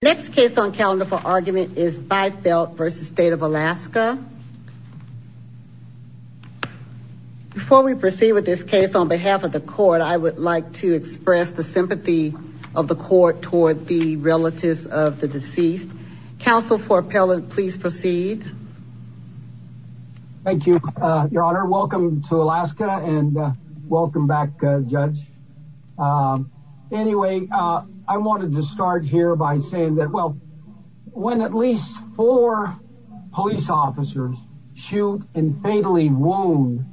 Next case on calendar for argument is Bifelt v. State of Alaska. Before we proceed with this case, on behalf of the court, I would like to express the sympathy of the court toward the relatives of the deceased. Counsel for appellant, please proceed. Thank you, Your Honor. Welcome to Alaska and welcome back, Judge. Anyway, I wanted to start here by saying that, well, when at least four police officers shoot and fatally wound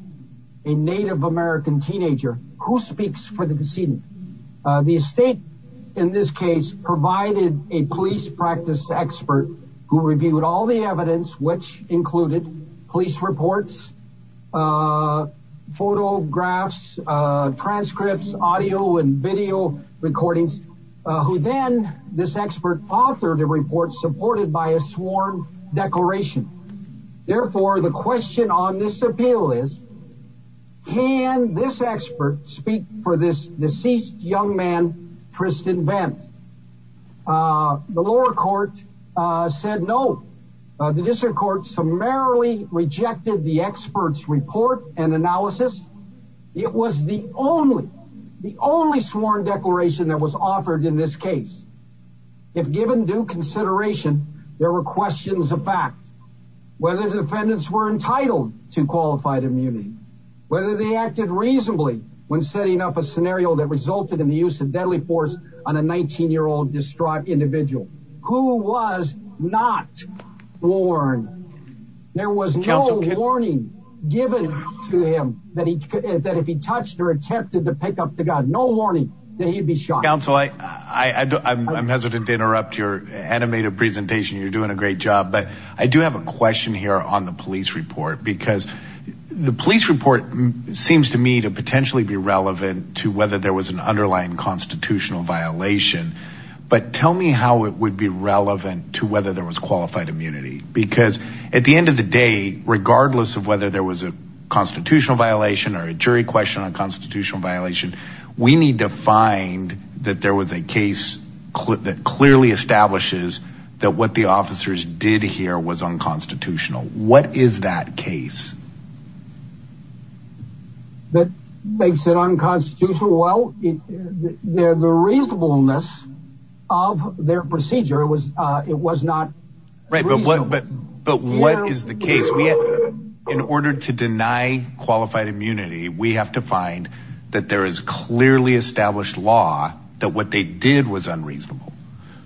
a Native American teenager, who speaks for the decedent? The estate, in this case, provided a police practice expert who reviewed all the evidence, which included police reports, photographs, transcripts, audio and video recordings, who then, this expert authored a report supported by a sworn declaration. Therefore, the question on this appeal is, can this expert speak for this deceased young man, Tristan Bent? The lower court said no. The district court summarily rejected the expert's report and analysis. It was the only, the only sworn declaration that was offered in this case. If given due consideration, there were questions of fact, whether defendants were entitled to qualified immunity, whether they acted reasonably when setting up a scenario that resulted in the use of deadly force on a 19-year-old distraught individual, who was not born. There was no warning given to him that if he touched or attempted to pick up the gun, no warning that he'd be shot. Counsel, I'm hesitant to interrupt your animated presentation. You're doing a great job. But I do have a question here on the police report, because the police report seems to me to potentially be relevant to whether there was an underlying constitutional violation. But tell me how it would be relevant to whether there was qualified immunity. Because at the end of the day, regardless of whether there was a constitutional violation or a jury question on constitutional violation, we need to find that there was a case that clearly establishes that what the officers did here was unconstitutional. What is that case? That makes it unconstitutional? Well, the reasonableness of their procedure, it was not reasonable. But what is the case? In order to deny qualified immunity, we have to find that there is clearly established law that what they did was unreasonable.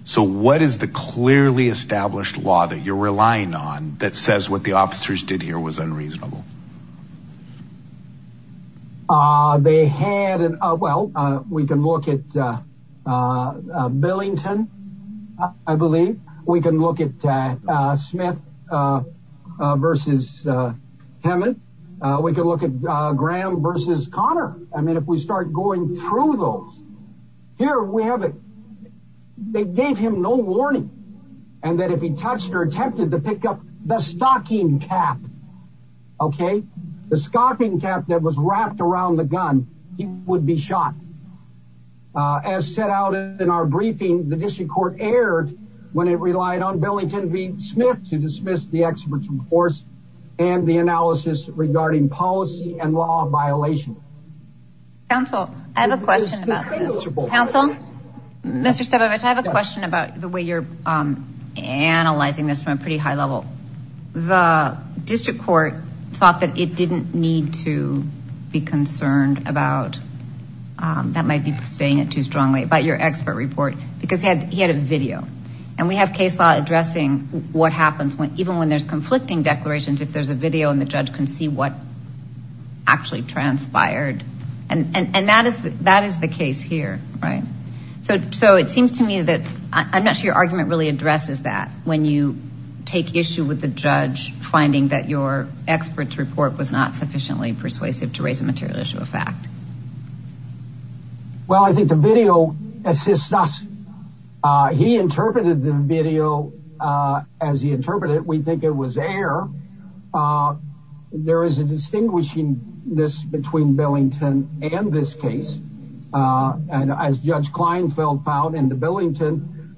So what is the clearly established law that you're relying on that says what the officers did here was unreasonable? They had, well, we can look at Billington, I believe. We can look at Smith versus Hammond. We can look at Graham versus Connor. I mean, if we start going through those, here we have it. They gave him no warning. And that if he touched or attempted to pick up the stocking cap, okay, the stocking cap that was wrapped around the gun, he would be shot. As set out in our briefing, the district court erred when it relied on Billington v. Smith to dismiss the expert's report and the analysis regarding policy and law violations. Counsel, I have a question about this. Counsel? Mr. Stabovich, I have a question about the way you're analyzing this from a pretty high level. The district court thought that it didn't need to be concerned about, that might be saying it too strongly, about your expert report because he had a video. And we have case law addressing what happens even when there's conflicting declarations if there's a video and the judge can see what actually transpired. And that is the case here, right? So it seems to me that, I'm not sure your argument really addresses that when you take issue with the judge finding that your expert's report was not sufficiently persuasive to raise a material issue of fact. Well, I think the video assists us. He interpreted the video as he interpreted it. We think it was air. There is a distinguishing this between Billington and this case. And as Judge Kleinfeld found in the Billington,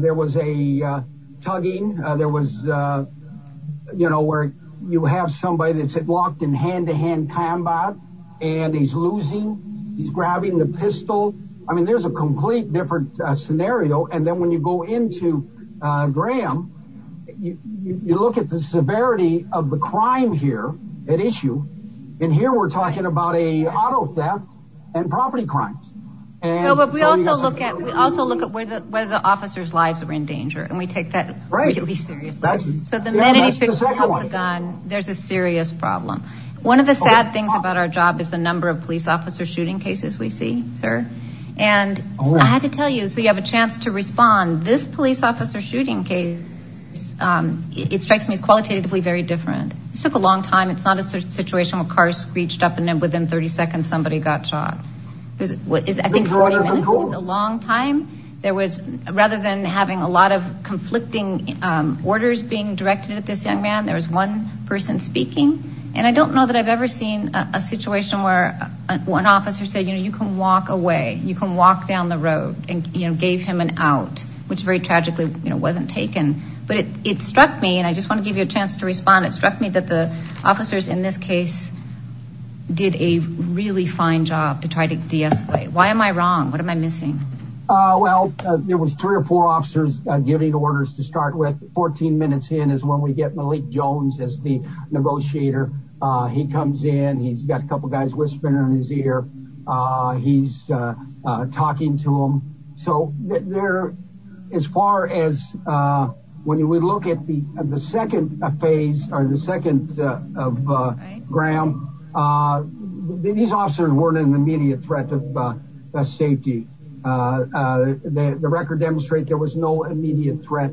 there was a tugging. There was, you know, where you have somebody that's locked in hand-to-hand combat, and he's losing, he's grabbing the pistol. I mean, there's a complete different scenario. And then when you go into Graham, you look at the severity of the crime here at issue. And here we're talking about a auto theft and property crimes. But we also look at where the officer's lives are in danger, and we take that really seriously. So the minute he picks up the gun, there's a serious problem. One of the sad things about our job is the number of police officer shooting cases we see, sir. And I had to tell you, so you have a chance to respond. This police officer shooting case, it strikes me as qualitatively very different. This took a long time. It's not a situation where cars screeched up and then within 30 seconds somebody got shot. I think 40 minutes is a long time. Rather than having a lot of conflicting orders being directed at this young man, there was one person speaking. And I don't know that I've ever seen a situation where an officer said, you know, you can walk away. You can walk down the road and gave him an out, which very tragically wasn't taken. But it struck me, and I just want to give you a chance to respond. It struck me that the officers in this case did a really fine job to try to deescalate. Why am I wrong? What am I missing? Well, there was three or four officers giving orders to start with. 14 minutes in is when we get Malik Jones as the negotiator. He comes in. He's got a couple guys whispering in his ear. He's talking to him. So as far as when we look at the second phase or the second of Graham, these officers weren't an immediate threat of safety. The record demonstrates there was no immediate threat.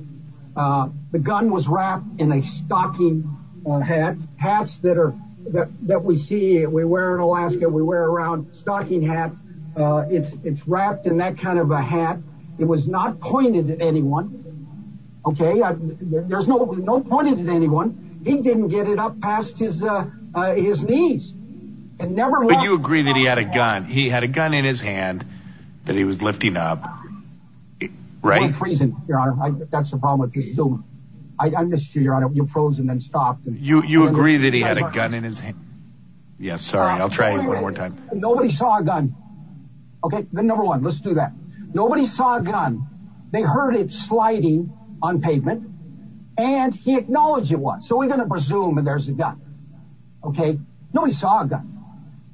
The gun was wrapped in a stocking hat, hats that we see, we wear in Alaska, we wear around stocking hats. It's wrapped in that kind of a hat. It was not pointed at anyone. OK, there's no no pointed at anyone. He didn't get it up past his his knees and never let you agree that he had a gun. He had a gun in his hand that he was lifting up. Right. Freezing. That's the problem. I missed you. You're out of your frozen and stopped. You agree that he had a gun in his hand. Yes. Sorry. I'll try one more time. Nobody saw a gun. OK, the number one, let's do that. Nobody saw a gun. They heard it sliding on pavement and he acknowledged it was so we're going to presume that there's a gun. OK, nobody saw a gun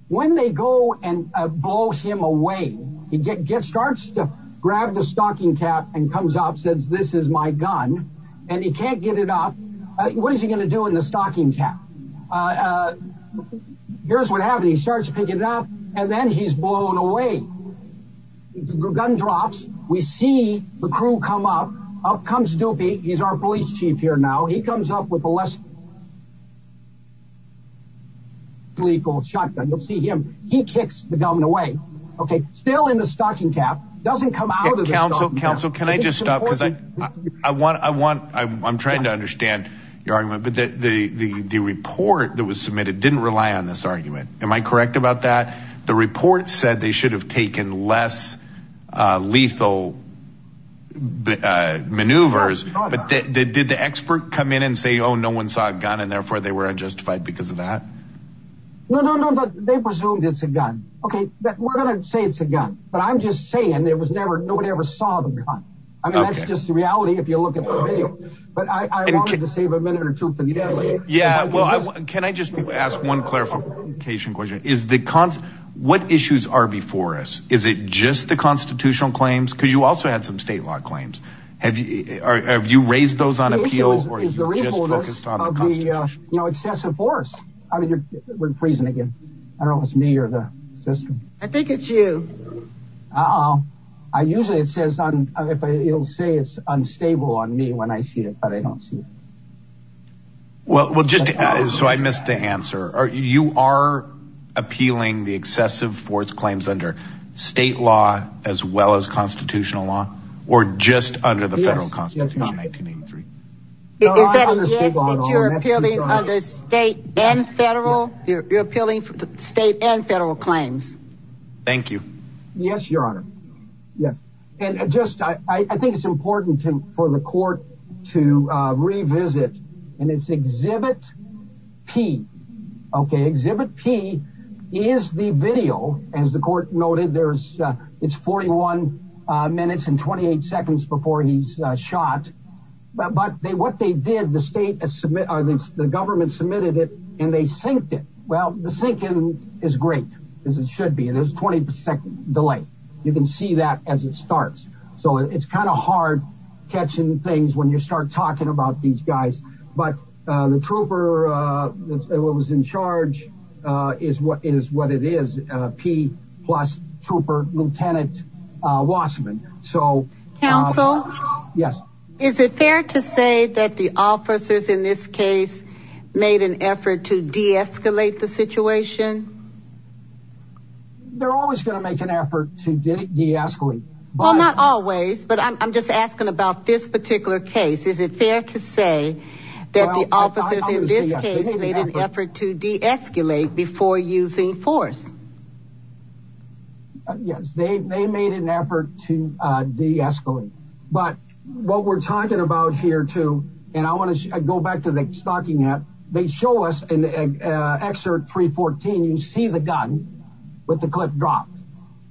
when they go and blow him away. He gets starts to grab the stocking cap and comes up, says, this is my gun and he can't get it up. What is he going to do in the stocking cap? Here's what happened. He starts to pick it up and then he's blown away. Gun drops. We see the crew come up. Up comes Dupie. He's our police chief here now. He comes up with a less. Legal shotgun. You'll see him. He kicks the gun away. OK. Still in the stocking cap. Doesn't come out of the council council. Can I just stop? Because I want I want I'm trying to understand your argument. But the report that was submitted didn't rely on this argument. Am I correct about that? The report said they should have taken less lethal maneuvers, but did the expert come in and say, oh, no one saw a gun and therefore they were unjustified because of that? No, no, no. They presumed it's a gun. OK, we're going to say it's a gun, but I'm just saying it was never nobody ever saw the gun. I mean, that's just the reality. If you look at the video. But I wanted to save a minute or two for the end. Yeah. Well, can I just ask one clarification question? Is the cons what issues are before us? Is it just the constitutional claims? Because you also had some state law claims. Have you raised those on appeals or is the report just on the Constitution? You know, excessive force. I mean, you're freezing again. I don't know if it's me or the system. I think it's you. I usually it says if it'll say it's unstable on me when I see it, but I don't see it. Well, just so I missed the answer. You are appealing the excessive force claims under state law as well as constitutional law or just under the federal constitution, 1983. Is that a yes that you're appealing under state and federal you're appealing state and federal claims? Thank you. Yes. Your Honor. Yes. And just I think it's important for the court to revisit and it's exhibit P. Okay. Exhibit P is the video. As the court noted, there's it's 41 minutes and 28 seconds before he's shot. But they what they did, the state submit or the government submitted it and they synced it. Well, the sink isn't as great as it should be. And there's 20% delay. You can see that as it starts. So it's kind of hard catching things when you start talking about these guys. But the trooper that was in charge is what is what it is. P plus trooper Lieutenant Wasserman. So counsel, yes. Is it fair to say that the officers in this case made an effort to deescalate the situation? They're always going to make an effort to deescalate by not always, but I'm just asking about this particular case. Is it fair to say that the officers in this case made an effort to deescalate before using force? Yes, they made an effort to deescalate. But what we're talking about here, too, and I want to go back to the stocking up. They show us an excerpt 314. You see the gun with the clip drop,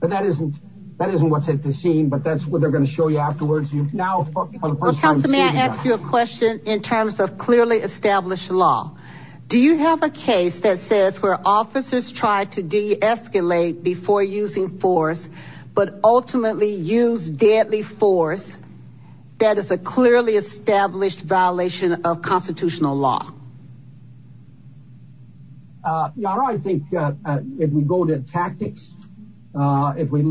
but that isn't that isn't what's at the scene. But that's what they're going to show you afterwards. You now have to ask you a question in terms of clearly established law. Do you have a case that says where officers tried to deescalate before using force, but ultimately used deadly force? That is a clearly established violation of constitutional law. Yeah, I think if we go to tactics, if we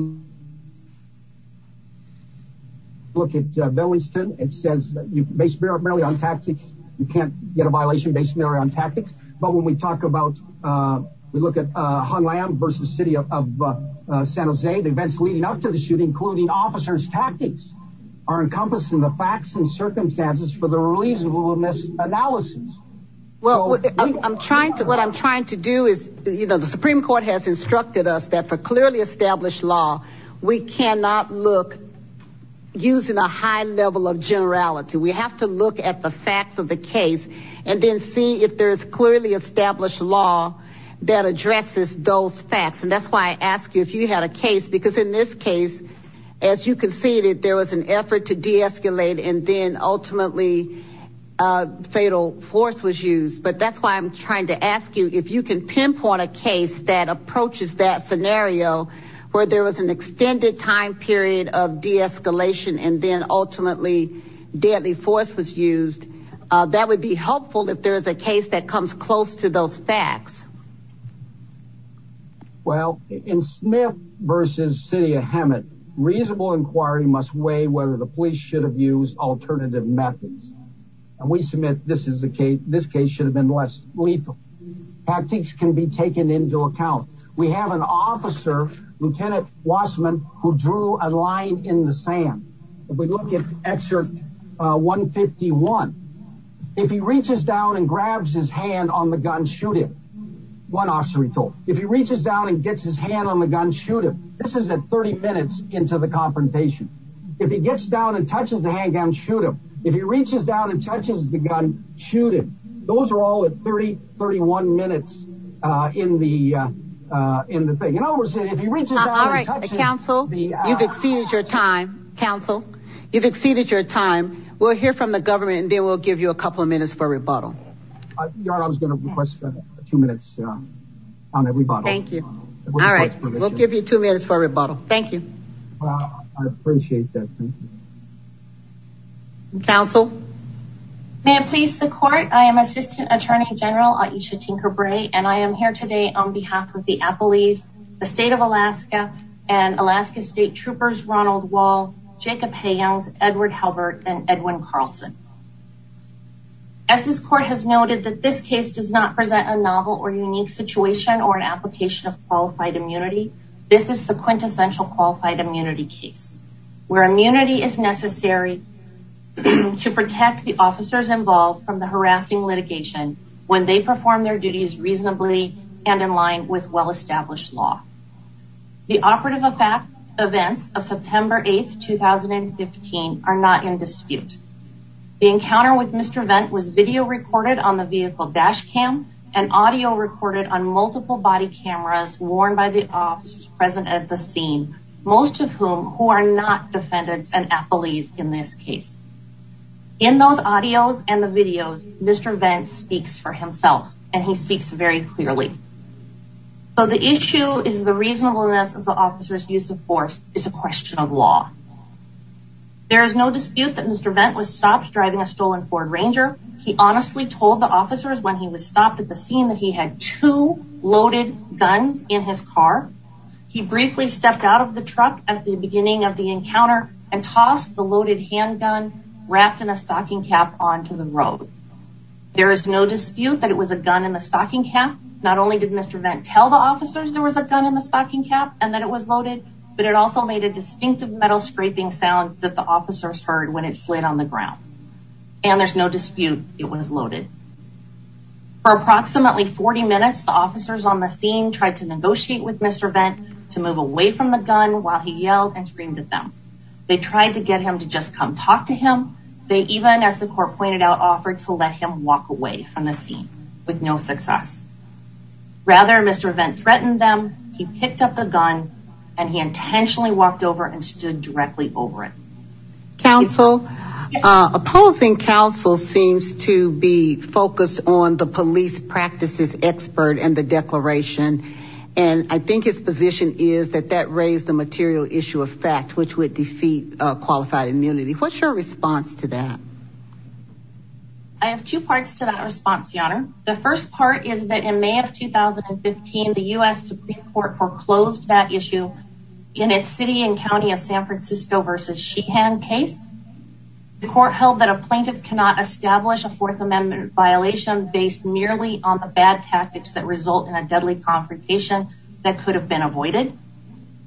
look at Billington, it says you based merely on tactics. You can't get a violation based merely on tactics. But when we talk about we look at Hong Kong versus the city of San Jose, the events leading up to the shooting, including officers, tactics are encompassing the facts and circumstances for the reasonableness analysis. Well, I'm trying to what I'm trying to do is, you know, the Supreme Court has instructed us that for clearly established law, we cannot look using a high level of generality. We have to look at the facts of the case and then see if there is clearly established law that addresses those facts. And that's why I asked you if you had a case, because in this case, as you can see, there was an effort to deescalate and then ultimately fatal force was used. But that's why I'm trying to ask you if you can pinpoint a case that approaches that scenario where there was an extended time period of deescalation and then ultimately deadly force was used. That would be helpful if there is a case that comes close to those facts. Well, in Smith versus city of Hamlet, reasonable inquiry must weigh whether the police should have used alternative methods. And we submit this is the case. This case should have been less lethal. Tactics can be taken into account. We have an officer, Lieutenant Wasserman, who drew a line in the sand. If we look at Excerpt 151, if he reaches down and grabs his hand on the gun, shoot him. One officer he told. If he reaches down and gets his hand on the gun, shoot him. This is at 30 minutes into the confrontation. If he gets down and touches the handgun, shoot him. If he reaches down and touches the gun, shoot him. Those are all at 30, 31 minutes in the in the thing. All right, counsel, you've exceeded your time, counsel. You've exceeded your time. We'll hear from the government and then we'll give you a couple of minutes for rebuttal. Your Honor, I was going to request two minutes on rebuttal. Thank you. All right. We'll give you two minutes for rebuttal. Thank you. Well, I appreciate that. Thank you. Counsel. May it please the court, I am Assistant Attorney General Aisha Tinker Bray and I am here today on behalf of the Appalese, the state of Alaska and Alaska State Troopers Ronald Wall, Jacob Haynes, Edward Halbert and Edwin Carlson. As this court has noted that this case does not present a novel or unique situation or an application of qualified immunity, this is the quintessential qualified immunity case where immunity is necessary to protect the officers involved from the harassing litigation when they perform their duties reasonably and in line with well-established law. The operative events of September 8th, 2015 are not in dispute. The encounter with Mr. Vent was video recorded on the vehicle dash cam and audio recorded on multiple body cameras worn by the officers present at the scene, most of whom who are not defendants and Appalese in this case. In those audios and the videos, Mr. Vent speaks for himself and he speaks very clearly. So the issue is the reasonableness of the officer's use of force is a question of law. There is no dispute that Mr. Vent was stopped driving a stolen Ford Ranger. He honestly told the officers when he was stopped at the scene that he had two loaded guns in his car. He briefly stepped out of the truck at the beginning of the encounter and tossed the wrapped in a stocking cap onto the road. There is no dispute that it was a gun in the stocking cap. Not only did Mr. Vent tell the officers there was a gun in the stocking cap and that it was loaded, but it also made a distinctive metal scraping sound that the officers heard when it slid on the ground. And there's no dispute it was loaded. For approximately 40 minutes, the officers on the scene tried to negotiate with Mr. Vent to move away from the gun while he yelled and screamed at them. They tried to get him to just come talk to him. They even, as the court pointed out, offered to let him walk away from the scene with no success. Rather, Mr. Vent threatened them, he picked up the gun and he intentionally walked over and stood directly over it. Counsel, opposing counsel seems to be focused on the police practices expert and the declaration. And I think his position is that that raised the material issue of fact, which would defeat a qualified immunity. What's your response to that? I have two parts to that response, Your Honor. The first part is that in May of 2015, the U.S. Supreme Court foreclosed that issue in its city and county of San Francisco versus Sheehan case. The court held that a plaintiff cannot establish a Fourth Amendment violation based merely on the bad tactics that result in a deadly confrontation that could have been avoided.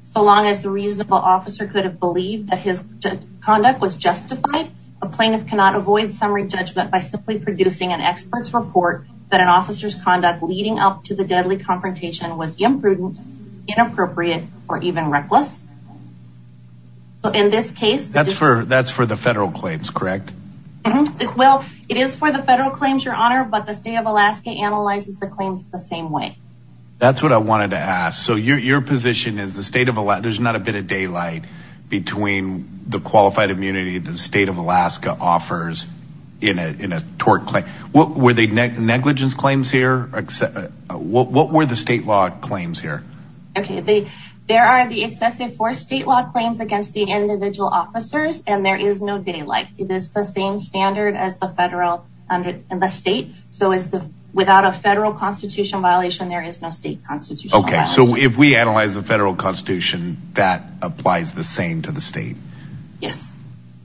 So long as the reasonable officer could have believed that his conduct was justified, a plaintiff cannot avoid summary judgment by simply producing an expert's report that an officer's conduct leading up to the deadly confrontation was imprudent, inappropriate, or even reckless. In this case, that's for the federal claims, correct? Well, it is for the federal claims, Your Honor, but the state of Alaska analyzes the claims the same way. That's what I wanted to ask. So your position is the state of Alaska, there's not a bit of daylight between the qualified immunity that the state of Alaska offers in a tort claim. What were the negligence claims here? What were the state law claims here? There are the excessive force state law claims against the individual officers, and there is no daylight. It is the same standard as the federal and the state. So without a federal constitution violation, there is no state constitution. Okay, so if we analyze the federal constitution, that applies the same to the state? Yes.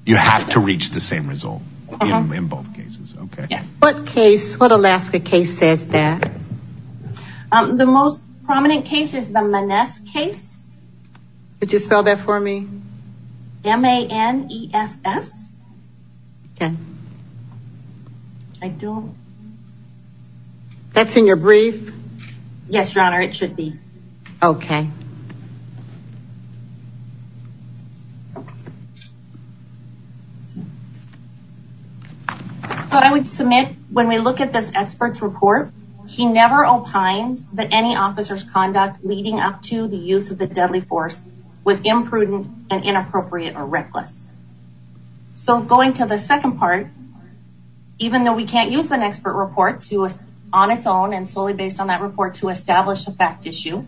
You have to reach the same result in both cases? Okay. What case, what Alaska case says that? The most prominent case is the Maness case. Could you spell that for me? M-A-N-E-S-S? Okay. I don't... That's in your brief? Yes, Your Honor, it should be. Okay. But I would submit, when we look at this expert's report, he never opines that any officer's So going to the second part, even though we can't use an expert report on its own and solely based on that report to establish a fact issue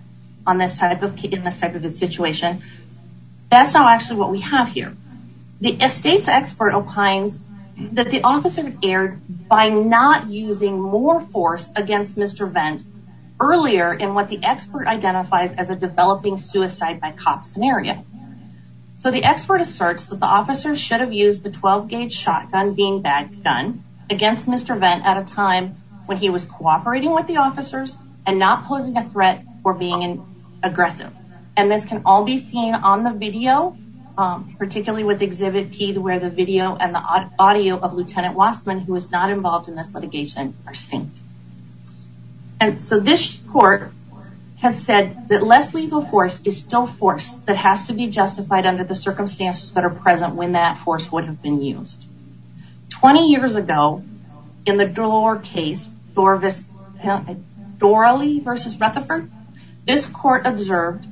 in this type of a situation, that's not actually what we have here. The state's expert opines that the officer erred by not using more force against Mr. Vend earlier in what the expert identifies as a developing suicide by cop scenario. So the expert asserts that the officer should have used the 12-gauge shotgun being bagged gun against Mr. Vend at a time when he was cooperating with the officers and not posing a threat for being aggressive. And this can all be seen on the video, particularly with exhibit P, where the video and the audio of Lieutenant Wassman, who was not involved in this litigation, are synced. And so this court has said that less lethal force is still force that has to be justified under the circumstances that are present when that force would have been used. Twenty years ago, in the Dore case, Dorely v. Rutherford, this court observed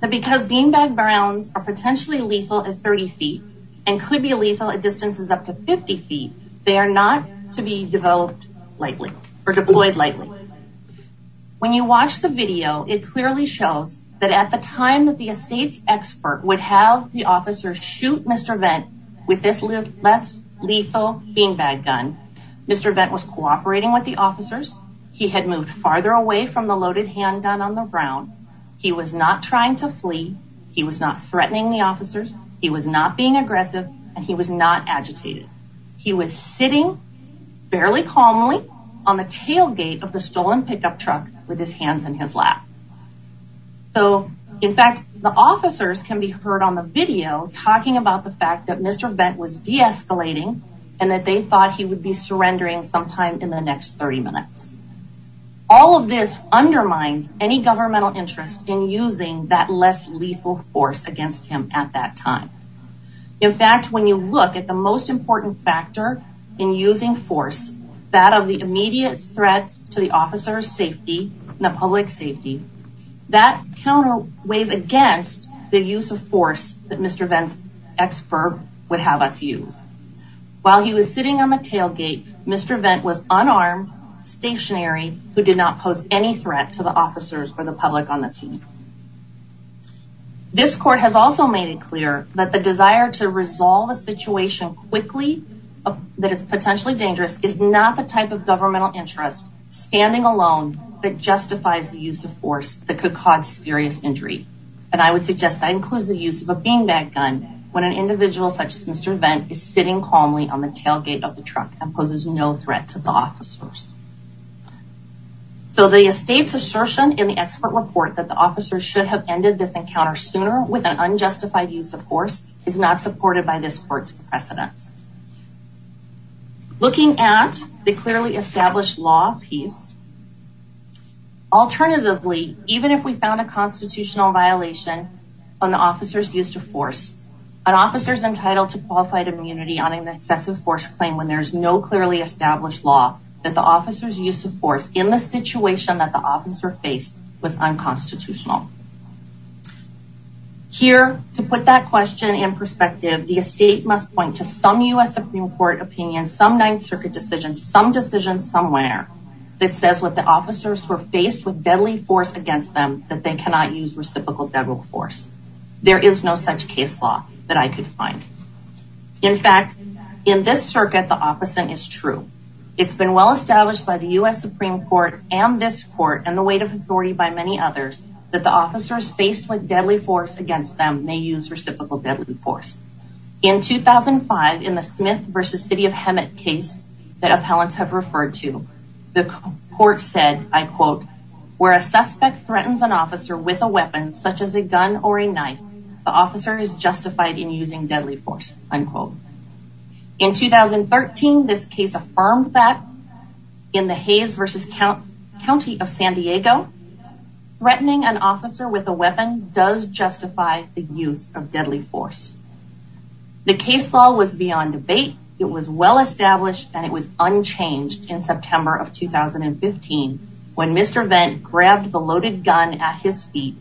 that because being bagged guns are potentially lethal at 30 feet and could be lethal at distances up to 50 feet, they are not to be deployed lightly. When you watch the video, it clearly shows that at the time that the state's expert would have the officer shoot Mr. Vend with this less lethal being bagged gun, Mr. Vend was cooperating with the officers. He had moved farther away from the loaded handgun on the ground. He was not trying to flee. He was not threatening the officers. He was not being aggressive and he was not agitated. He was sitting fairly calmly on the tailgate of the stolen pickup truck with his hands in his lap. So, in fact, the officers can be heard on the video talking about the fact that Mr. Vend was deescalating and that they thought he would be surrendering sometime in the next 30 minutes. All of this undermines any governmental interest in using that less lethal force against him at that time. In fact, when you look at the most important factor in using force, that of the immediate threats to the officer's safety and the public safety, that counter weighs against the use of force that Mr. Vend's expert would have us use. While he was sitting on the tailgate, Mr. Vend was unarmed, stationary, who did not pose any threat to the officers or the public on the scene. This court has also made it clear that the desire to resolve a situation quickly that is potentially dangerous is not the type of governmental interest standing alone that justifies the use of force that could cause serious injury. And I would suggest that includes the use of a bean bag gun when an individual such as Mr. Vend is sitting calmly on the tailgate of the truck and poses no threat to the officers. So the state's assertion in the expert report that the officers should have ended this encounter sooner with an unjustified use of force is not supported by this court's precedent. Looking at the clearly established law piece, alternatively, even if we found a constitutional violation on the officers used to force, an officer's entitled to qualified immunity on an excessive force claim when there is no clearly established law that the officer's use of force in the situation that the officer faced was unconstitutional. Here to put that question in perspective, the estate must point to some U.S. Supreme Court opinion, some Ninth Circuit decision, some decision somewhere that says what the officers were faced with deadly force against them that they cannot use reciprocal devil force. There is no such case law that I could find. In fact, in this circuit, the opposite is true. It's been well established by the U.S. Supreme Court and this court and the weight of authority by many others that the officers faced with deadly force against them may use reciprocal deadly force. In 2005, in the Smith versus City of Hemet case that appellants have referred to, the court said, I quote, where a suspect threatens an officer with a weapon such as a gun or a knife. The officer is justified in using deadly force, unquote. In 2013, this case affirmed that in the Hayes versus County of San Diego, threatening an officer with a weapon does justify the use of deadly force. The case law was beyond debate. It was well established and it was unchanged in September of 2015 when Mr. Vent grabbed the loaded gun at his feet,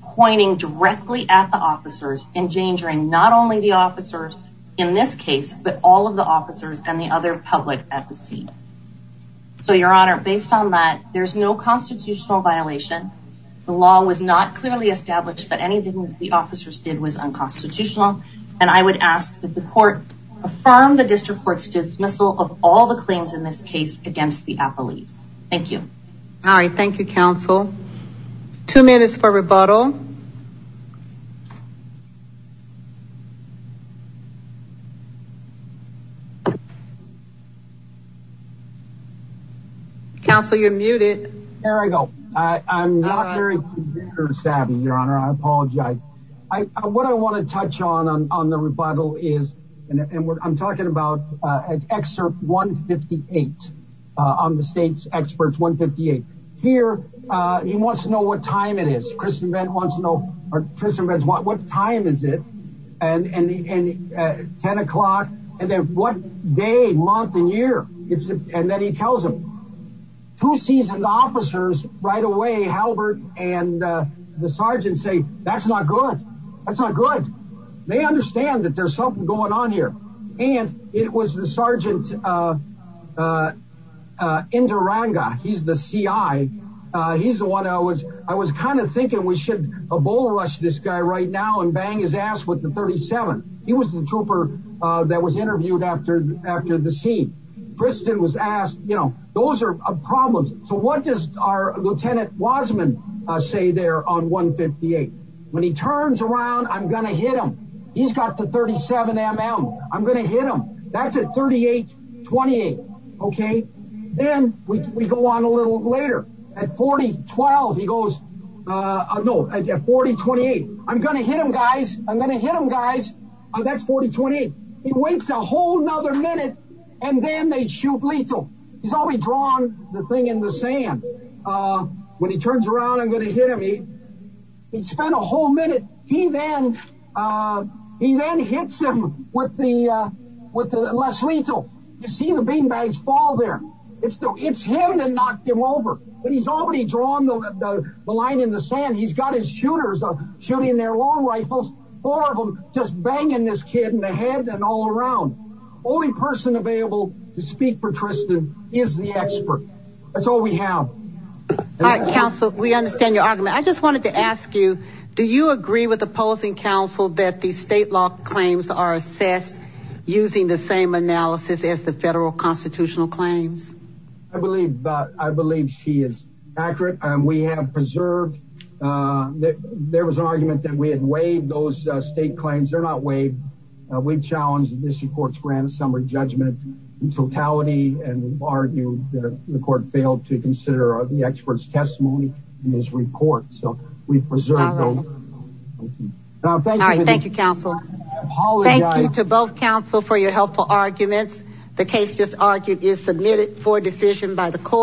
pointing directly at the officers, endangering not only the officers in this case, but all of the officers and the other public at the scene. So your honor, based on that, there's no constitutional violation. The law was not clearly established that anything that the officers did was unconstitutional. And I would ask that the court affirm the district court's dismissal of all the claims in this case against the appellees. Thank you. All right. Thank you, counsel. Two minutes for rebuttal. Counsel you're muted. Here I go. I'm not very computer savvy, your honor. I apologize. What I want to touch on, on the rebuttal is, and I'm talking about an excerpt 158 on the state's experts 158. Here he wants to know what time it is. Kristen Vent wants to know, Kristen Vent wants to know, what time is it? And 10 o'clock and then what day, month and year? And then he tells them. Two seasoned officers right away, Halbert and the sergeant say, that's not good. That's not good. They understand that there's something going on here. And it was the sergeant Induranga. He's the CI. He's the one I was, I was kind of thinking we should Ebola rush this guy right now and bang his ass with the 37. He was the trooper that was interviewed after, after the scene. Kristen was asked, you know, those are problems. So what does our Lieutenant Wasman say there on 158? When he turns around, I'm going to hit him. He's got the 37 mm. I'm going to hit him. That's a 38, 28. Okay. Then we go on a little later at 40, 12. He goes, no, I get 40, 28. I'm going to hit him, guys. I'm going to hit him, guys. That's 40, 28. He waits a whole nother minute. And then they shoot lethal. He's already drawn the thing in the sand. When he turns around, I'm going to hit him. He spent a whole minute. He then, he then hits him with the, with the less lethal. You see the beanbags fall there. It's still, it's him that knocked him over. But he's already drawn the line in the sand. He's got his shooters shooting their long rifles. Four of them just banging this kid in the head and all around. Only person available to speak for Tristan is the expert. That's all we have. All right, counsel, we understand your argument. I just wanted to ask you, do you agree with opposing counsel that the state law claims are assessed using the same analysis as the federal constitutional claims? I believe, I believe she is accurate. We have preserved, there was an argument that we had waived those state claims. They're not waived. We've challenged the district court's grant of summary judgment in totality. And we've argued that the court failed to consider the expert's testimony in this report. So we've preserved those- All right, thank you, counsel. Thank you to both counsel for your helpful arguments. The case just argued is submitted for decision by the court.